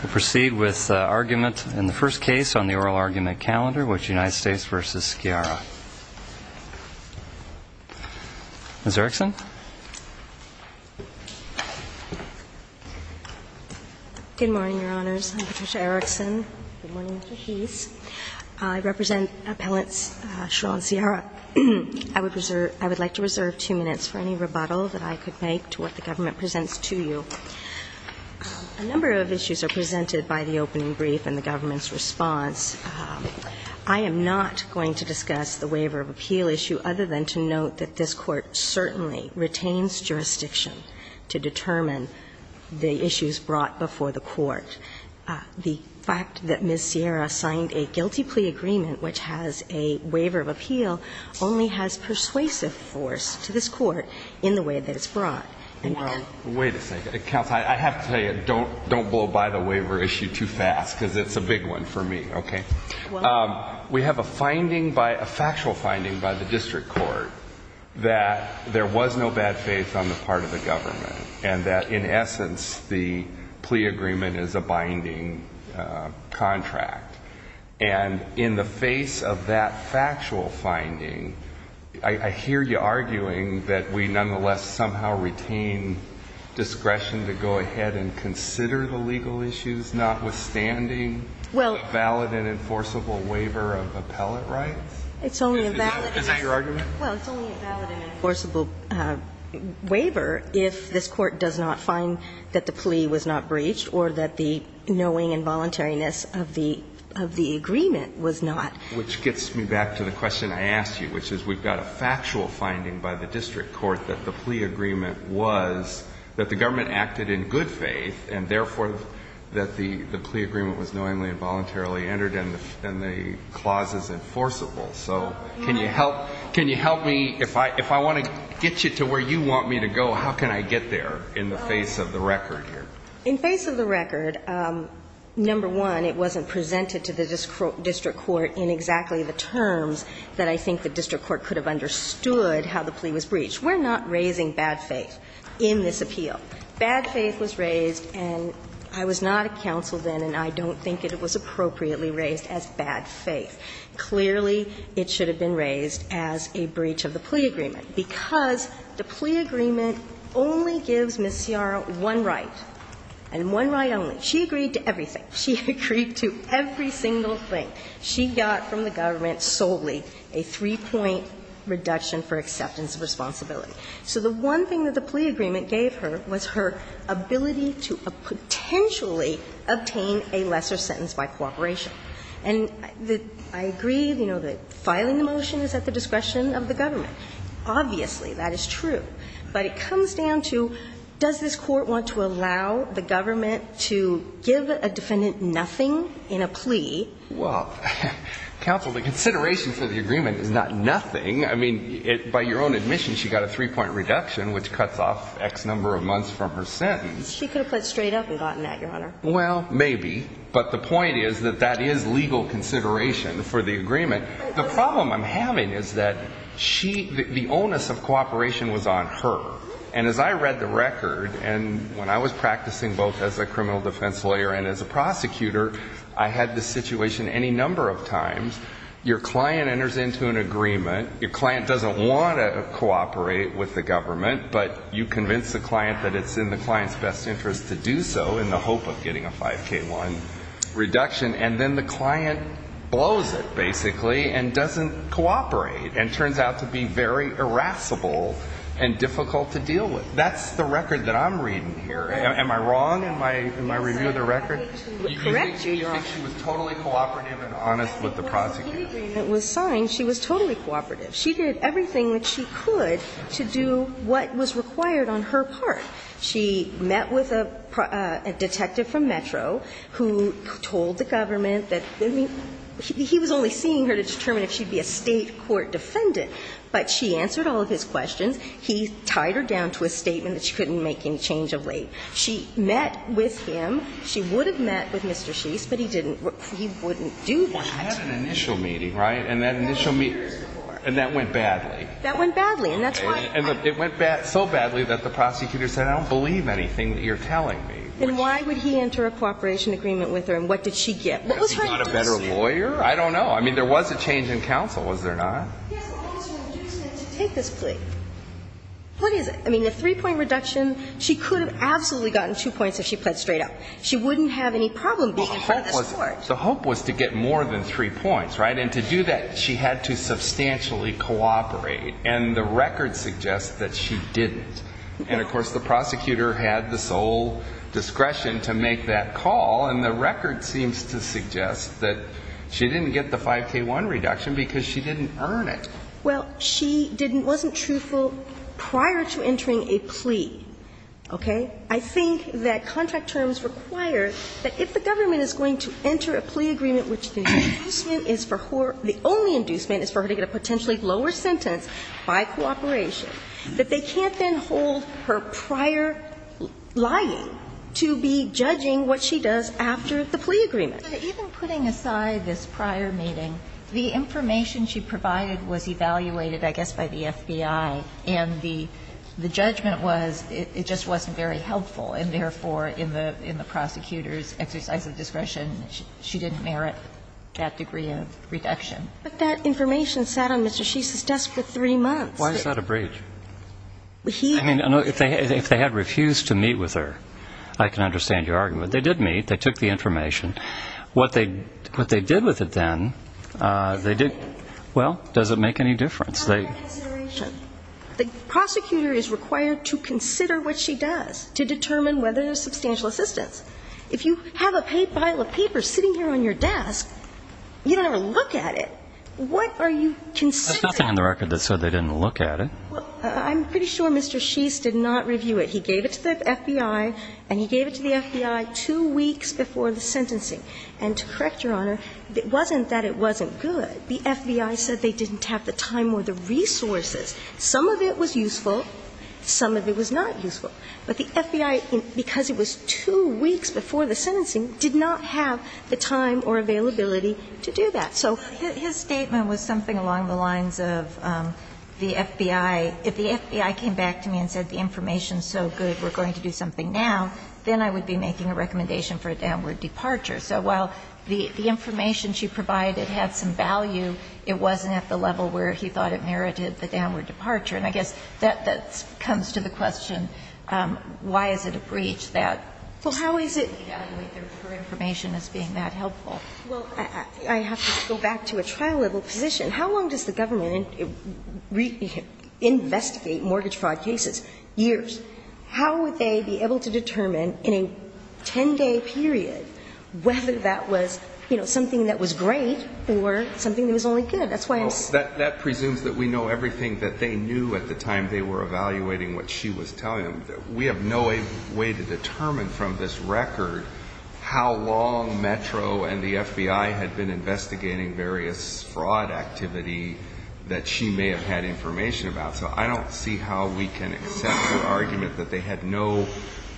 We'll proceed with argument in the first case on the oral argument calendar, which is United States v. Sciara. Ms. Erikson. Good morning, Your Honors. I'm Patricia Erikson. Good morning, Mr. Heath. I represent Appellants Shaw and Sciara. I would like to reserve two minutes for any rebuttal that I could make to what the government presents to you. A number of issues are presented by the opening brief and the government's response. I am not going to discuss the waiver of appeal issue other than to note that this Court certainly retains jurisdiction to determine the issues brought before the Court. The fact that Ms. Sciara signed a guilty plea agreement which has a waiver of appeal only has persuasive force to this Court in the way that it's brought. Wait a second. Counsel, I have to tell you, don't blow by the waiver issue too fast because it's a big one for me, okay? We have a finding, a factual finding, by the District Court that there was no bad faith on the part of the government and that, in essence, the plea agreement is a binding contract. And in the face of that factual finding, I hear you arguing that we nonetheless somehow retain discretion to go ahead and consider the legal issues notwithstanding a valid and enforceable waiver of appellate rights? It's only a valid and enforceable waiver if this Court does not find that the plea was not breached or that the knowing and voluntariness of the agreement was not. Which gets me back to the question I asked you, which is we've got a factual finding by the District Court that the plea agreement was that the government acted in good faith and, therefore, that the plea agreement was knowingly and voluntarily entered and the clause is enforceable. So can you help me? If I want to get you to where you want me to go, how can I get there in the face of the record here? In face of the record, number one, it wasn't presented to the District Court in exactly the terms that I think the District Court could have understood how the plea was breached. We're not raising bad faith in this appeal. Bad faith was raised, and I was not a counsel then, and I don't think it was appropriately raised as bad faith. Clearly, it should have been raised as a breach of the plea agreement, because the plea agreement only gives Ms. Sciarra one right, and one right only. She agreed to everything. She agreed to every single thing. She got from the government solely a three-point reduction for acceptance of responsibility. So the one thing that the plea agreement gave her was her ability to potentially obtain a lesser sentence by cooperation. And I agree, you know, that filing the motion is at the discretion of the government. Obviously, that is true. But it comes down to, does this court want to allow the government to give a defendant nothing in a plea? Well, counsel, the consideration for the agreement is not nothing. I mean, by your own admission, she got a three-point reduction, which cuts off X number of months from her sentence. She could have put it straight up and gotten that, Your Honor. Well, maybe. But the point is that that is legal consideration for the agreement. The problem I'm having is that the onus of cooperation was on her. And as I read the record, and when I was practicing both as a criminal defense lawyer and as a prosecutor, I had this situation any number of times. Your client enters into an agreement. Your client doesn't want to cooperate with the government, but you convince the client that it's in the client's best interest to do so in the hope of getting a 5K1 reduction. And then the client blows it, basically, and doesn't cooperate and turns out to be very irascible and difficult to deal with. That's the record that I'm reading here. Am I wrong in my review of the record? Yes, sir. Correct, Your Honor. Do you think she was totally cooperative and honest with the prosecutor? The agreement was signed. She was totally cooperative. She did everything that she could to do what was required on her part. She met with a detective from Metro who told the government that he was only seeing her to determine if she'd be a State court defendant. But she answered all of his questions. He tied her down to a statement that she couldn't make any change of weight. She met with him. She would have met with Mr. Sheese, but he didn't. He wouldn't do that. She had an initial meeting, right? And that initial meeting. And that went badly. That went badly. And it went so badly that the prosecutor said, I don't believe anything that you're telling me. Then why would he enter a cooperation agreement with her, and what did she get? What was her agency? Was she not a better lawyer? I don't know. I mean, there was a change in counsel, was there not? Yes, but what was her agency to take this plea? What is it? I mean, the three-point reduction, she could have absolutely gotten two points if she pled straight up. She wouldn't have any problem being in front of this Court. Well, the hope was to get more than three points, right? And to do that, she had to substantially cooperate. And the record suggests that she didn't. And, of course, the prosecutor had the sole discretion to make that call. And the record seems to suggest that she didn't get the 5K1 reduction because she didn't earn it. Well, she didn't, wasn't truthful prior to entering a plea. Okay? I think that contract terms require that if the government is going to enter a plea agreement which the inducement is for her, the only inducement is for her to get a potentially lower sentence by cooperation, that they can't then hold her prior lying to be judging what she does after the plea agreement. But even putting aside this prior meeting, the information she provided was evaluated, I guess, by the FBI, and the judgment was it just wasn't very helpful, and therefore in the prosecutor's exercise of discretion, she didn't merit that degree of reduction. But that information sat on Mr. Shisa's desk for three months. Why is that a breach? I mean, if they had refused to meet with her, I can understand your argument. They did meet. They took the information. What they did with it then, they did ñ well, does it make any difference? It's not a reconsideration. The prosecutor is required to consider what she does to determine whether there's substantial assistance. If you have a pile of paper sitting here on your desk, you don't ever look at it. What are you considering? That's nothing on the record that said they didn't look at it. Well, I'm pretty sure Mr. Shisa did not review it. He gave it to the FBI, and he gave it to the FBI two weeks before the sentencing. And to correct Your Honor, it wasn't that it wasn't good. The FBI said they didn't have the time or the resources. Some of it was useful. Some of it was not useful. But the FBI, because it was two weeks before the sentencing, did not have the time or availability to do that. Soó His statement was something along the lines of the FBI, if the FBI came back to me and said the information is so good, we're going to do something now, then I would be making a recommendation for a downward departure. So while the information she provided had some value, it wasn't at the level where he thought it merited the downward departure. And I guess that comes to the question, why is it a breach tható Well, how is itó For information as being that helpful. Well, I have to go back to a trial-level position. How long does the government investigate mortgage fraud cases? Years. How would they be able to determine in a 10-day period whether that was, you know, something that was great or something that was only good? That's whyó That presumes that we know everything that they knew at the time they were evaluating what she was telling them. We have no way to determine from this record how long Metro and the FBI had been investigating various fraud activity that she may have had information about. So I don't see how we can accept the argument that they had no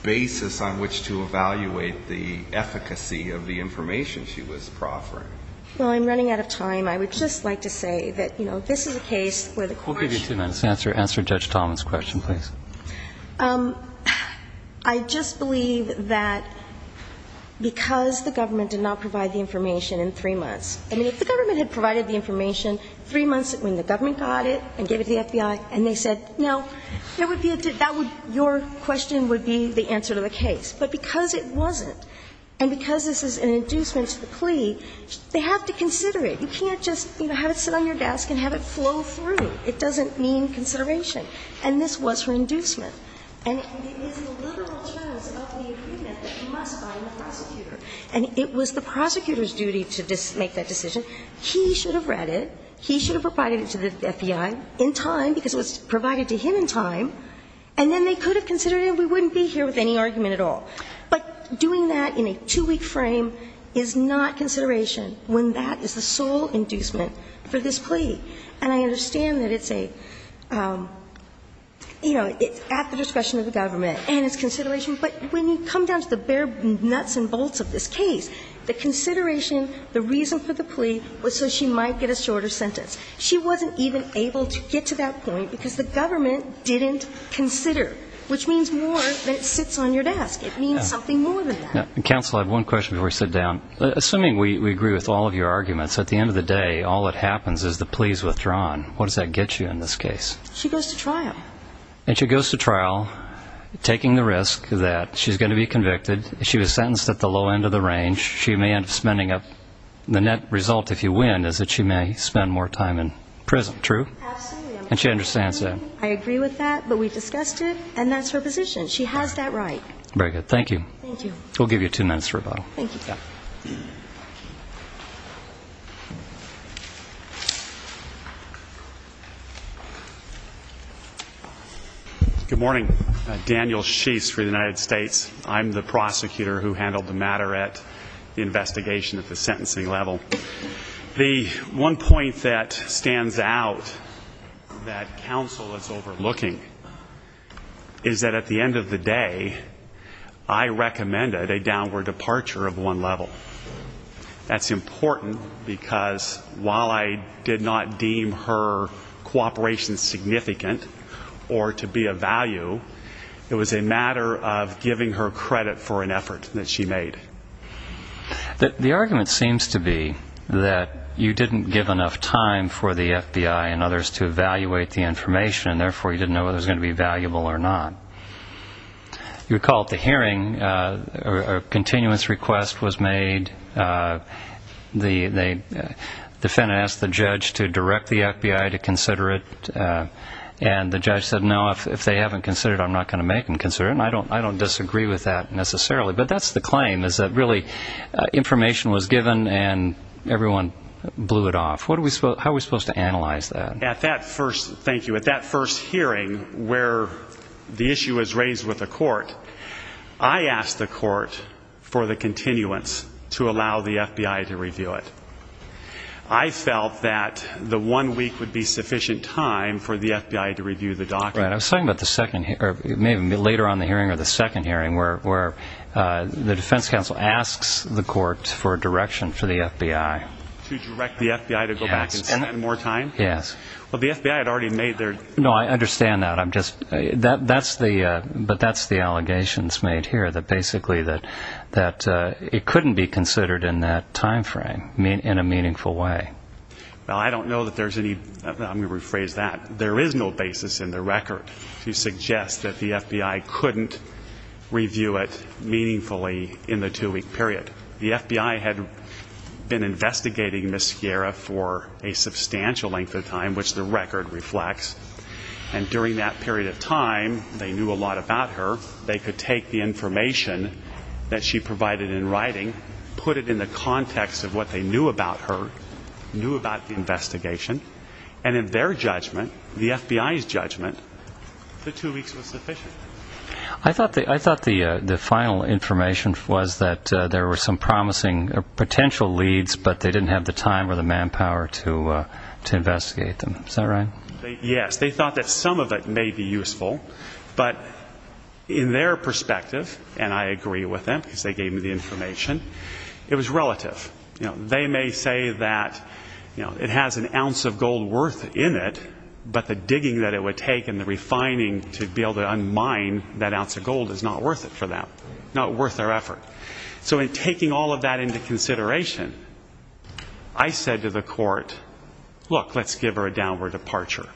basis on which to evaluate the efficacy of the information she was proffering. Well, I'm running out of time. I would just like to say that, you know, this is a case where the courtó We'll give you two minutes. Answer Judge Talmadge's question, please. I just believe that because the government did not provide the information in three monthsóI mean, if the government had provided the information three months when the government got it and gave it to the FBI, and they said, no, there would be aóthat wouldóyour question would be the answer to the case. But because it wasn't, and because this is an inducement to the plea, they have to just, you know, have it sit on your desk and have it flow through. It doesn't mean consideration. And this was her inducement. And it is the literal terms of the agreement that must bind the prosecutor. And it was the prosecutor's duty to make that decision. He should have read it. He should have provided it to the FBI in time, because it was provided to him in time. And then they could have considered it, and we wouldn't be here with any argument But doing that in a two-week frame is not consideration when that is the sole inducement for this plea. And I understand that it's a, you know, it's at the discretion of the government and it's consideration. But when you come down to the bare nuts and bolts of this case, the consideration, the reason for the plea was so she might get a shorter sentence. She wasn't even able to get to that point because the government didn't consider, which means more than it sits on your desk. It means something more than that. Counsel, I have one question before we sit down. Assuming we agree with all of your arguments, at the end of the day, all that happens is the plea is withdrawn. What does that get you in this case? She goes to trial. And she goes to trial, taking the risk that she's going to be convicted. She was sentenced at the low end of the range. She may end up spending up the net result if you win is that she may spend more time in prison. True? Absolutely. And she understands that? I agree with that, but we discussed it, and that's her position. She has that right. Very good. Thank you. Thank you. We'll give you two minutes for rebuttal. Thank you. Good morning. Daniel Sheese for the United States. I'm the prosecutor who handled the matter at the investigation at the sentencing level. The one point that stands out that counsel is overlooking is that at the end of the day, I recommended a downward departure of one level. That's important because while I did not deem her cooperation significant or to be of value, it was a matter of giving her credit for an effort that she made. The argument seems to be that you didn't give enough time for the FBI and others to evaluate the information, and therefore you didn't know whether it was going to be valuable or not. You recall at the hearing a continuance request was made. The defendant asked the judge to direct the FBI to consider it, and the judge said, no, if they haven't considered it, I'm not going to make them consider it, and I don't disagree with that necessarily. But that's the claim, is that really information was given and everyone blew it off. How are we supposed to analyze that? Thank you. At that first hearing where the issue was raised with the court, I asked the court for the continuance to allow the FBI to review it. I felt that the one week would be sufficient time for the FBI to review the document. I was talking about later on in the hearing or the second hearing where the defense counsel asks the court for direction for the FBI. To direct the FBI to go back and spend more time? Yes. Well, the FBI had already made their... No, I understand that. But that's the allegations made here, that basically it couldn't be considered in that time frame in a meaningful way. Well, I don't know that there's any, I'm going to rephrase that, that there is no basis in the record to suggest that the FBI couldn't review it meaningfully in the two-week period. The FBI had been investigating Ms. Sierra for a substantial length of time, which the record reflects, and during that period of time they knew a lot about her. They could take the information that she provided in writing, put it in the context of what they knew about her, knew about the investigation, and in their judgment, the FBI's judgment, the two weeks was sufficient. I thought the final information was that there were some promising potential leads, but they didn't have the time or the manpower to investigate them. Is that right? Yes. They thought that some of it may be useful, but in their perspective, and I agree with them because they gave me the information, it was relative. They may say that it has an ounce of gold worth in it, but the digging that it would take and the refining to be able to unmine that ounce of gold is not worth it for them, not worth their effort. So in taking all of that into consideration, I said to the court, look, let's give her a downward departure.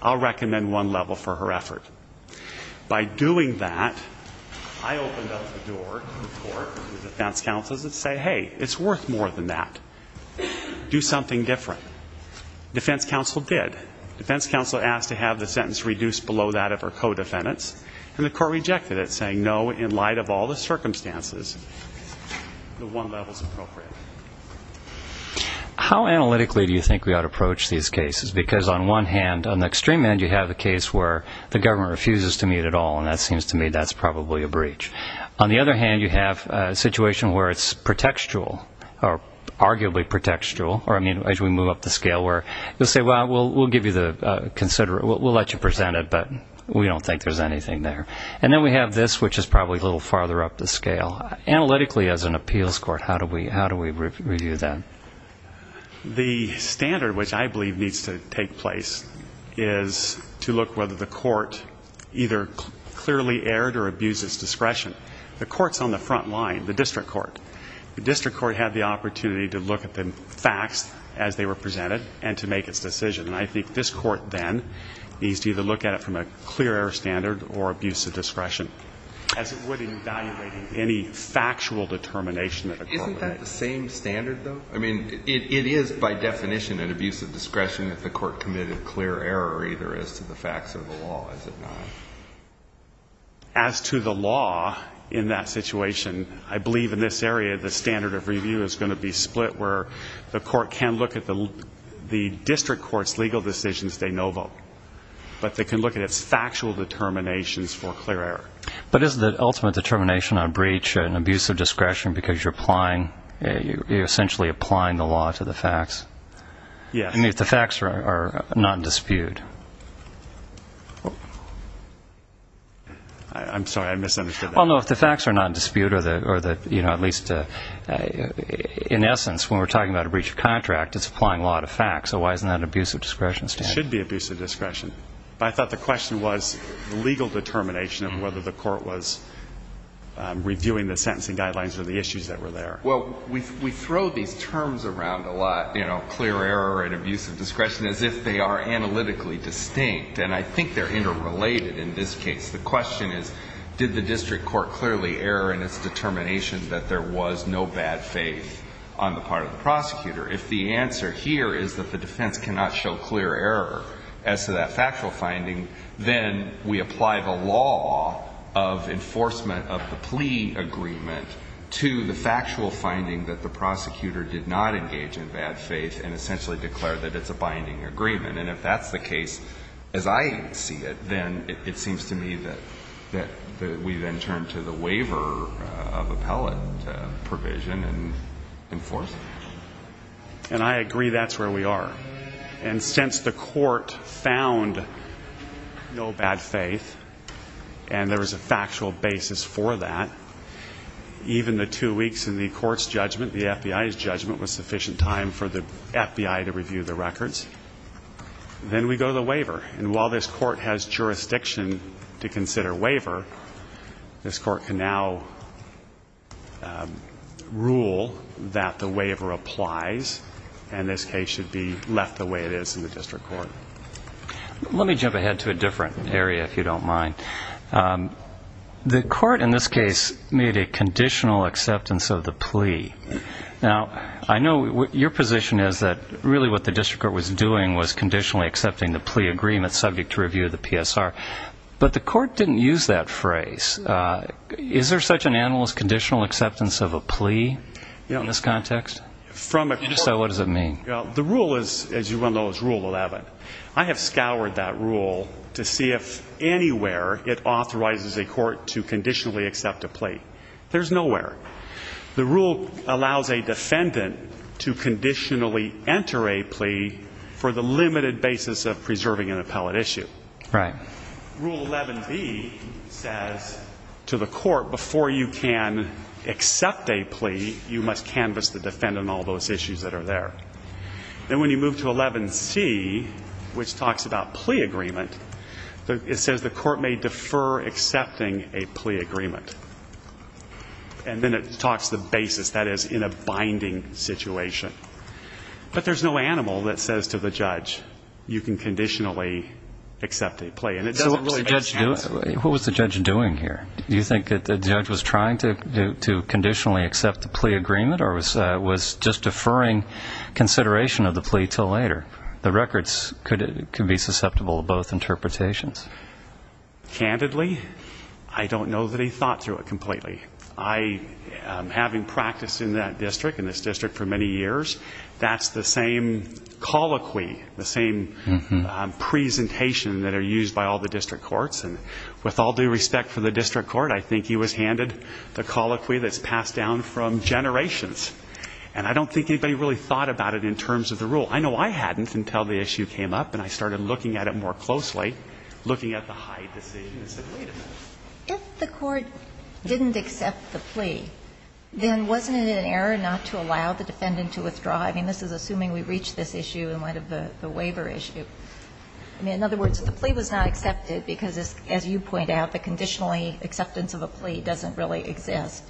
I'll recommend one level for her effort. By doing that, I opened up the door to the court, the defense counsels, and say, hey, it's worth more than that. Do something different. Defense counsel did. Defense counsel asked to have the sentence reduced below that of her co-defendants, and the court rejected it, saying, no, in light of all the circumstances, the one level is appropriate. How analytically do you think we ought to approach these cases? Because on one hand, on the extreme end, you have a case where the government refuses to meet at all, and that seems to me that's probably a breach. On the other hand, you have a situation where it's pretextual, or arguably pretextual, or, I mean, as we move up the scale, where you'll say, well, we'll let you present it, but we don't think there's anything there. And then we have this, which is probably a little farther up the scale. Analytically, as an appeals court, how do we review that? The standard, which I believe needs to take place, is to look whether the court either clearly erred or abused its discretion. The court's on the front line, the district court. The district court had the opportunity to look at the facts as they were presented and to make its decision. And I think this court then needs to either look at it from a clear error standard or abuse of discretion, as it would in evaluating any factual determination that the court made. Isn't that the same standard, though? I mean, it is, by definition, an abuse of discretion if the court committed clear error, either as to the facts or the law, is it not? As to the law in that situation, I believe in this area, the standard of review is going to be split, where the court can look at the district court's legal decisions de novo, but they can look at its factual determinations for clear error. But isn't the ultimate determination on breach an abuse of discretion because you're essentially applying the law to the facts? Yes. I mean, if the facts are not in dispute. I'm sorry. I misunderstood that. Well, no, if the facts are not in dispute, or at least in essence, when we're talking about a breach of contract, it's applying law to facts. So why isn't that an abuse of discretion standard? It should be abuse of discretion. But I thought the question was the legal determination of whether the court was reviewing the sentencing guidelines or the issues that were there. Well, we throw these terms around a lot, you know, clear error and abuse of discretion, as if they are analytically distinct. And I think they're interrelated in this case. The question is, did the district court clearly err in its determination that there was no bad faith on the part of the prosecutor? If the answer here is that the defense cannot show clear error as to that factual finding, then we apply the law of enforcement of the plea agreement to the factual finding that the prosecutor did not engage in bad faith and essentially declared that it's a binding agreement. And if that's the case, as I see it, then it seems to me that we then turn to the waiver of appellate provision and enforce it. And I agree that's where we are. And since the court found no bad faith and there was a factual basis for that, even the two weeks in the court's judgment, the FBI's judgment, was sufficient time for the FBI to review the records. Then we go to the waiver. And while this court has jurisdiction to consider waiver, this court can now rule that the waiver applies and this case should be left the way it is in the district court. Let me jump ahead to a different area, if you don't mind. The court in this case made a conditional acceptance of the plea. Now, I know your position is that really what the district court was doing was conditionally accepting the plea agreement subject to review of the PSR. But the court didn't use that phrase. Is there such an animal as conditional acceptance of a plea in this context? If so, what does it mean? The rule is, as you well know, is Rule 11. I have scoured that rule to see if anywhere it authorizes a court to conditionally accept a plea. There's nowhere. The rule allows a defendant to conditionally enter a plea for the limited basis of preserving an appellate issue. Right. Rule 11B says to the court, before you can accept a plea, you must canvass the defendant on all those issues that are there. Then when you move to 11C, which talks about plea agreement, it says the court may defer accepting a plea agreement. And then it talks the basis, that is, in a binding situation. But there's no animal that says to the judge, you can conditionally accept a plea. What was the judge doing here? Do you think that the judge was trying to conditionally accept the plea agreement or was just deferring consideration of the plea until later? The records could be susceptible to both interpretations. Candidly, I don't know that he thought through it completely. Having practiced in that district, in this district for many years, that's the same colloquy, the same presentation that are used by all the district courts. And with all due respect for the district court, I think he was handed the colloquy that's passed down from generations. And I don't think anybody really thought about it in terms of the rule. I know I hadn't until the issue came up, and I started looking at it more closely, looking at the Hyde decision and said, wait a minute. If the court didn't accept the plea, then wasn't it an error not to allow the defendant to withdraw? I mean, this is assuming we reach this issue in light of the waiver issue. I mean, in other words, the plea was not accepted because, as you point out, the conditionally acceptance of a plea doesn't really exist.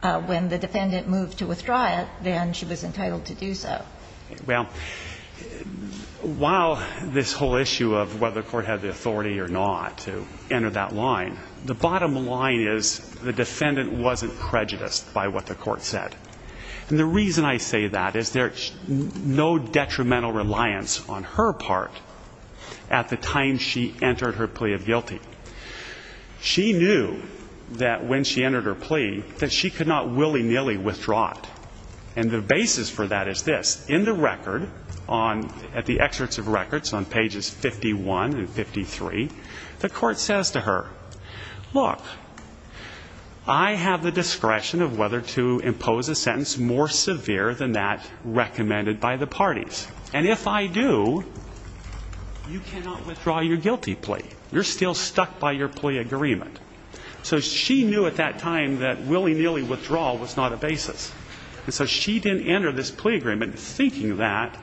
When the defendant moved to withdraw it, then she was entitled to do so. Well, while this whole issue of whether the court had the authority or not to enter that line, the bottom line is the defendant wasn't prejudiced by what the court said. And the reason I say that is there's no detrimental reliance on her part at the time she entered her plea of guilty. She knew that when she entered her plea that she could not willy-nilly withdraw it. And the basis for that is this. In the record, at the excerpts of records on pages 51 and 53, the court says to her, look, I have the discretion of whether to impose a sentence more severe than that recommended by the parties. And if I do, you cannot withdraw your guilty plea. You're still stuck by your plea agreement. So she knew at that time that willy-nilly withdrawal was not a basis. And so she didn't enter this plea agreement thinking that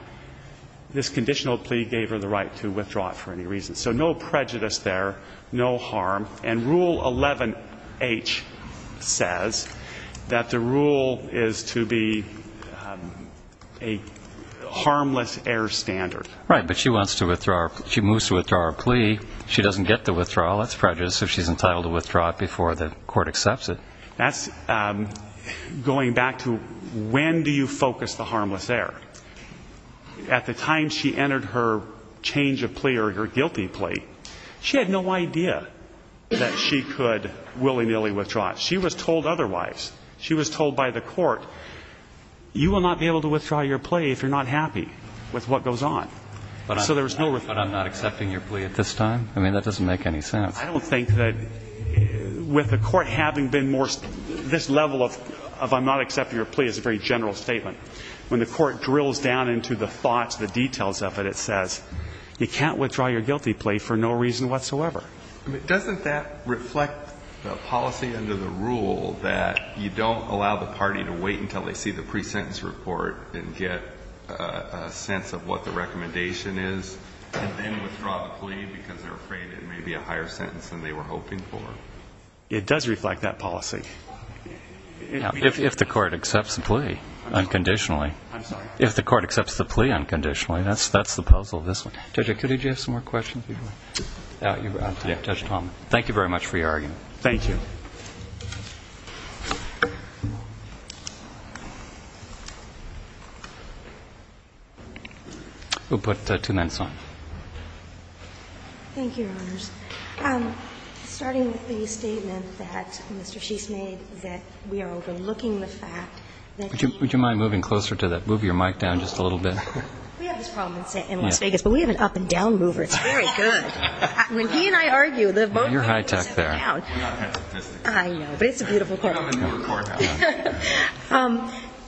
this conditional plea gave her the right to withdraw it for any reason. So no prejudice there, no harm. And Rule 11H says that the rule is to be a harmless error standard. Right, but she wants to withdraw her plea. She moves to withdraw her plea. She doesn't get the withdrawal. That's prejudice if she's entitled to withdraw it before the court accepts it. That's going back to when do you focus the harmless error. At the time she entered her change of plea or her guilty plea, she had no idea that she could willy-nilly withdraw it. She was told otherwise. She was told by the court, you will not be able to withdraw your plea if you're not happy with what goes on. So there was no withdrawal. But I'm not accepting your plea at this time? I mean, that doesn't make any sense. I don't think that with the court having been more this level of I'm not accepting your plea is a very general statement. When the court drills down into the thoughts, the details of it, it says you can't withdraw your guilty plea for no reason whatsoever. Doesn't that reflect the policy under the rule that you don't allow the party to wait until they see the pre-sentence report and get a sense of what the recommendation is and then withdraw the plea because they're afraid it may be a higher sentence than they were hoping for? It does reflect that policy. If the court accepts the plea unconditionally. I'm sorry? If the court accepts the plea unconditionally. That's the puzzle of this one. Judge, did you have some more questions? Yeah. Thank you very much for your argument. Thank you. We'll put two minutes on. Thank you, Your Honors. Starting with the statement that Mr. Sheast made that we are overlooking the fact that he. Would you mind moving closer to that? Move your mic down just a little bit. We have this problem in Las Vegas, but we have an up and down mover. It's very good. When he and I argue. You're high tech there. I know, but it's a beautiful court.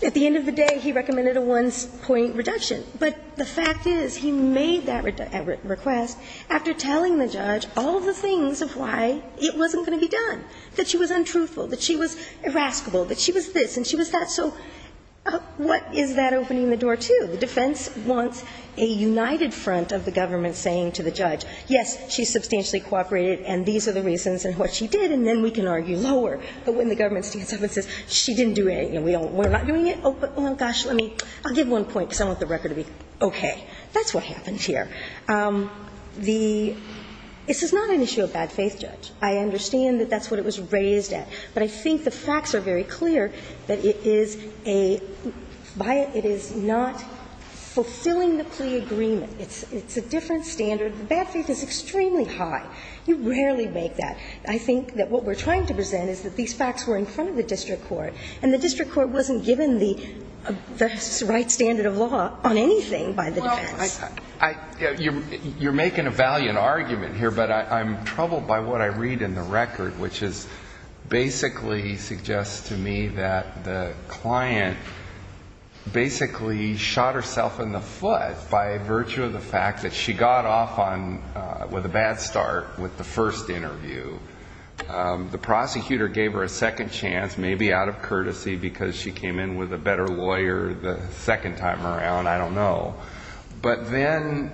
At the end of the day, he recommended a one point reduction. But the fact is he made that request after telling the judge all the things of why it wasn't going to be done. That she was untruthful, that she was irascible, that she was this and she was that. So what is that opening the door to? The defense wants a united front of the government saying to the judge, yes, she substantially cooperated and these are the reasons and what she did. And then we can argue lower. But when the government stands up and says, she didn't do anything, we're not doing it. Oh, but, well, gosh, let me. I'll give one point because I want the record to be okay. That's what happened here. The – this is not an issue of bad faith, Judge. I understand that that's what it was raised at. But I think the facts are very clear that it is a – by it, it is not fulfilling the plea agreement. It's a different standard. The bad faith is extremely high. You rarely make that. I think that what we're trying to present is that these facts were in front of the district court. And the district court wasn't given the right standard of law on anything by the defense. Well, I – you're making a valiant argument here, but I'm troubled by what I read in the record, which is basically suggests to me that the client basically shot herself in the foot by virtue of the fact that she got off on – with a bad start with the first interview. The prosecutor gave her a second chance, maybe out of courtesy because she came in with a better lawyer the second time around. I don't know. But then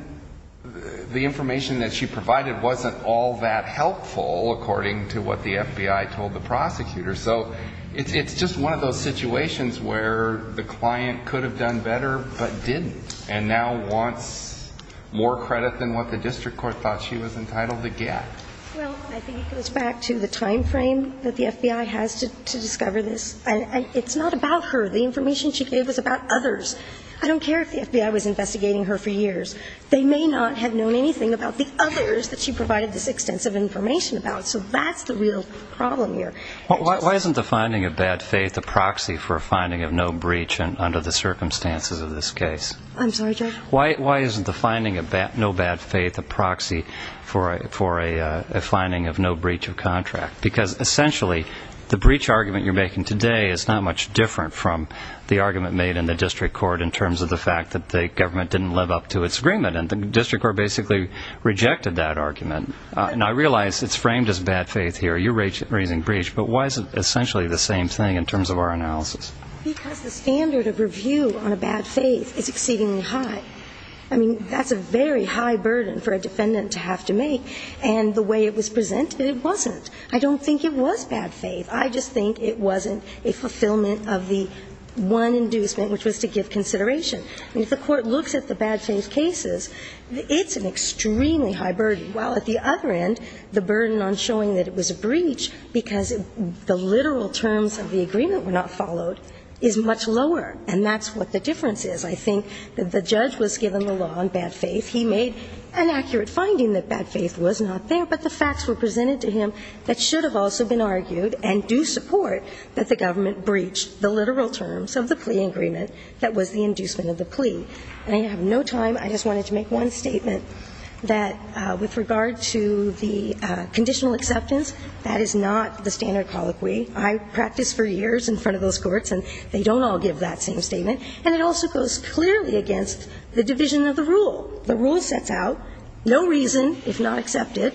the information that she provided wasn't all that helpful according to what the FBI told the prosecutor. So it's just one of those situations where the client could have done better but didn't And now wants more credit than what the district court thought she was entitled to get. Well, I think it goes back to the timeframe that the FBI has to discover this. And it's not about her. The information she gave was about others. I don't care if the FBI was investigating her for years. They may not have known anything about the others that she provided this extensive information about. So that's the real problem here. Why isn't the finding of bad faith a proxy for a finding of no breach under the circumstances of this case? I'm sorry, Judge? Why isn't the finding of no bad faith a proxy for a finding of no breach of contract? Because essentially the breach argument you're making today is not much different from the argument made in the district court in terms of the fact that the government didn't live up to its agreement. And the district court basically rejected that argument. And I realize it's framed as bad faith here. You're raising breach. But why is it essentially the same thing in terms of our analysis? Because the standard of review on a bad faith is exceedingly high. I mean, that's a very high burden for a defendant to have to make. And the way it was presented, it wasn't. I don't think it was bad faith. I just think it wasn't a fulfillment of the one inducement, which was to give consideration. I mean, if the court looks at the bad faith cases, it's an extremely high burden, while at the other end the burden on showing that it was a breach because the literal terms of the agreement were not followed is much lower. And that's what the difference is. I think that the judge was given the law on bad faith. He made an accurate finding that bad faith was not there, but the facts were presented to him that should have also been argued and do support that the government breached the literal terms of the plea agreement that was the inducement of the plea. And I have no time. I just wanted to make one statement that with regard to the conditional acceptance, that is not the standard colloquy. I practiced for years in front of those courts, and they don't all give that same statement. And it also goes clearly against the division of the rule. The rule sets out no reason, if not accepted,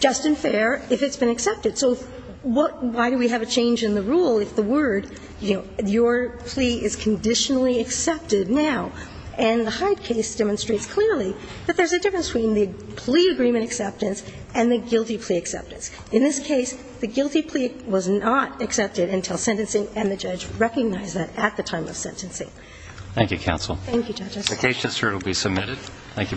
just and fair, if it's been accepted. So what – why do we have a change in the rule if the word, you know, your plea is conditionally accepted now? And the Hyde case demonstrates clearly that there's a difference between the plea agreement acceptance and the guilty plea acceptance. In this case, the guilty plea was not accepted until sentencing, and the judge recognized that at the time of sentencing. Thank you, counsel. Thank you, judges. The case just heard will be submitted.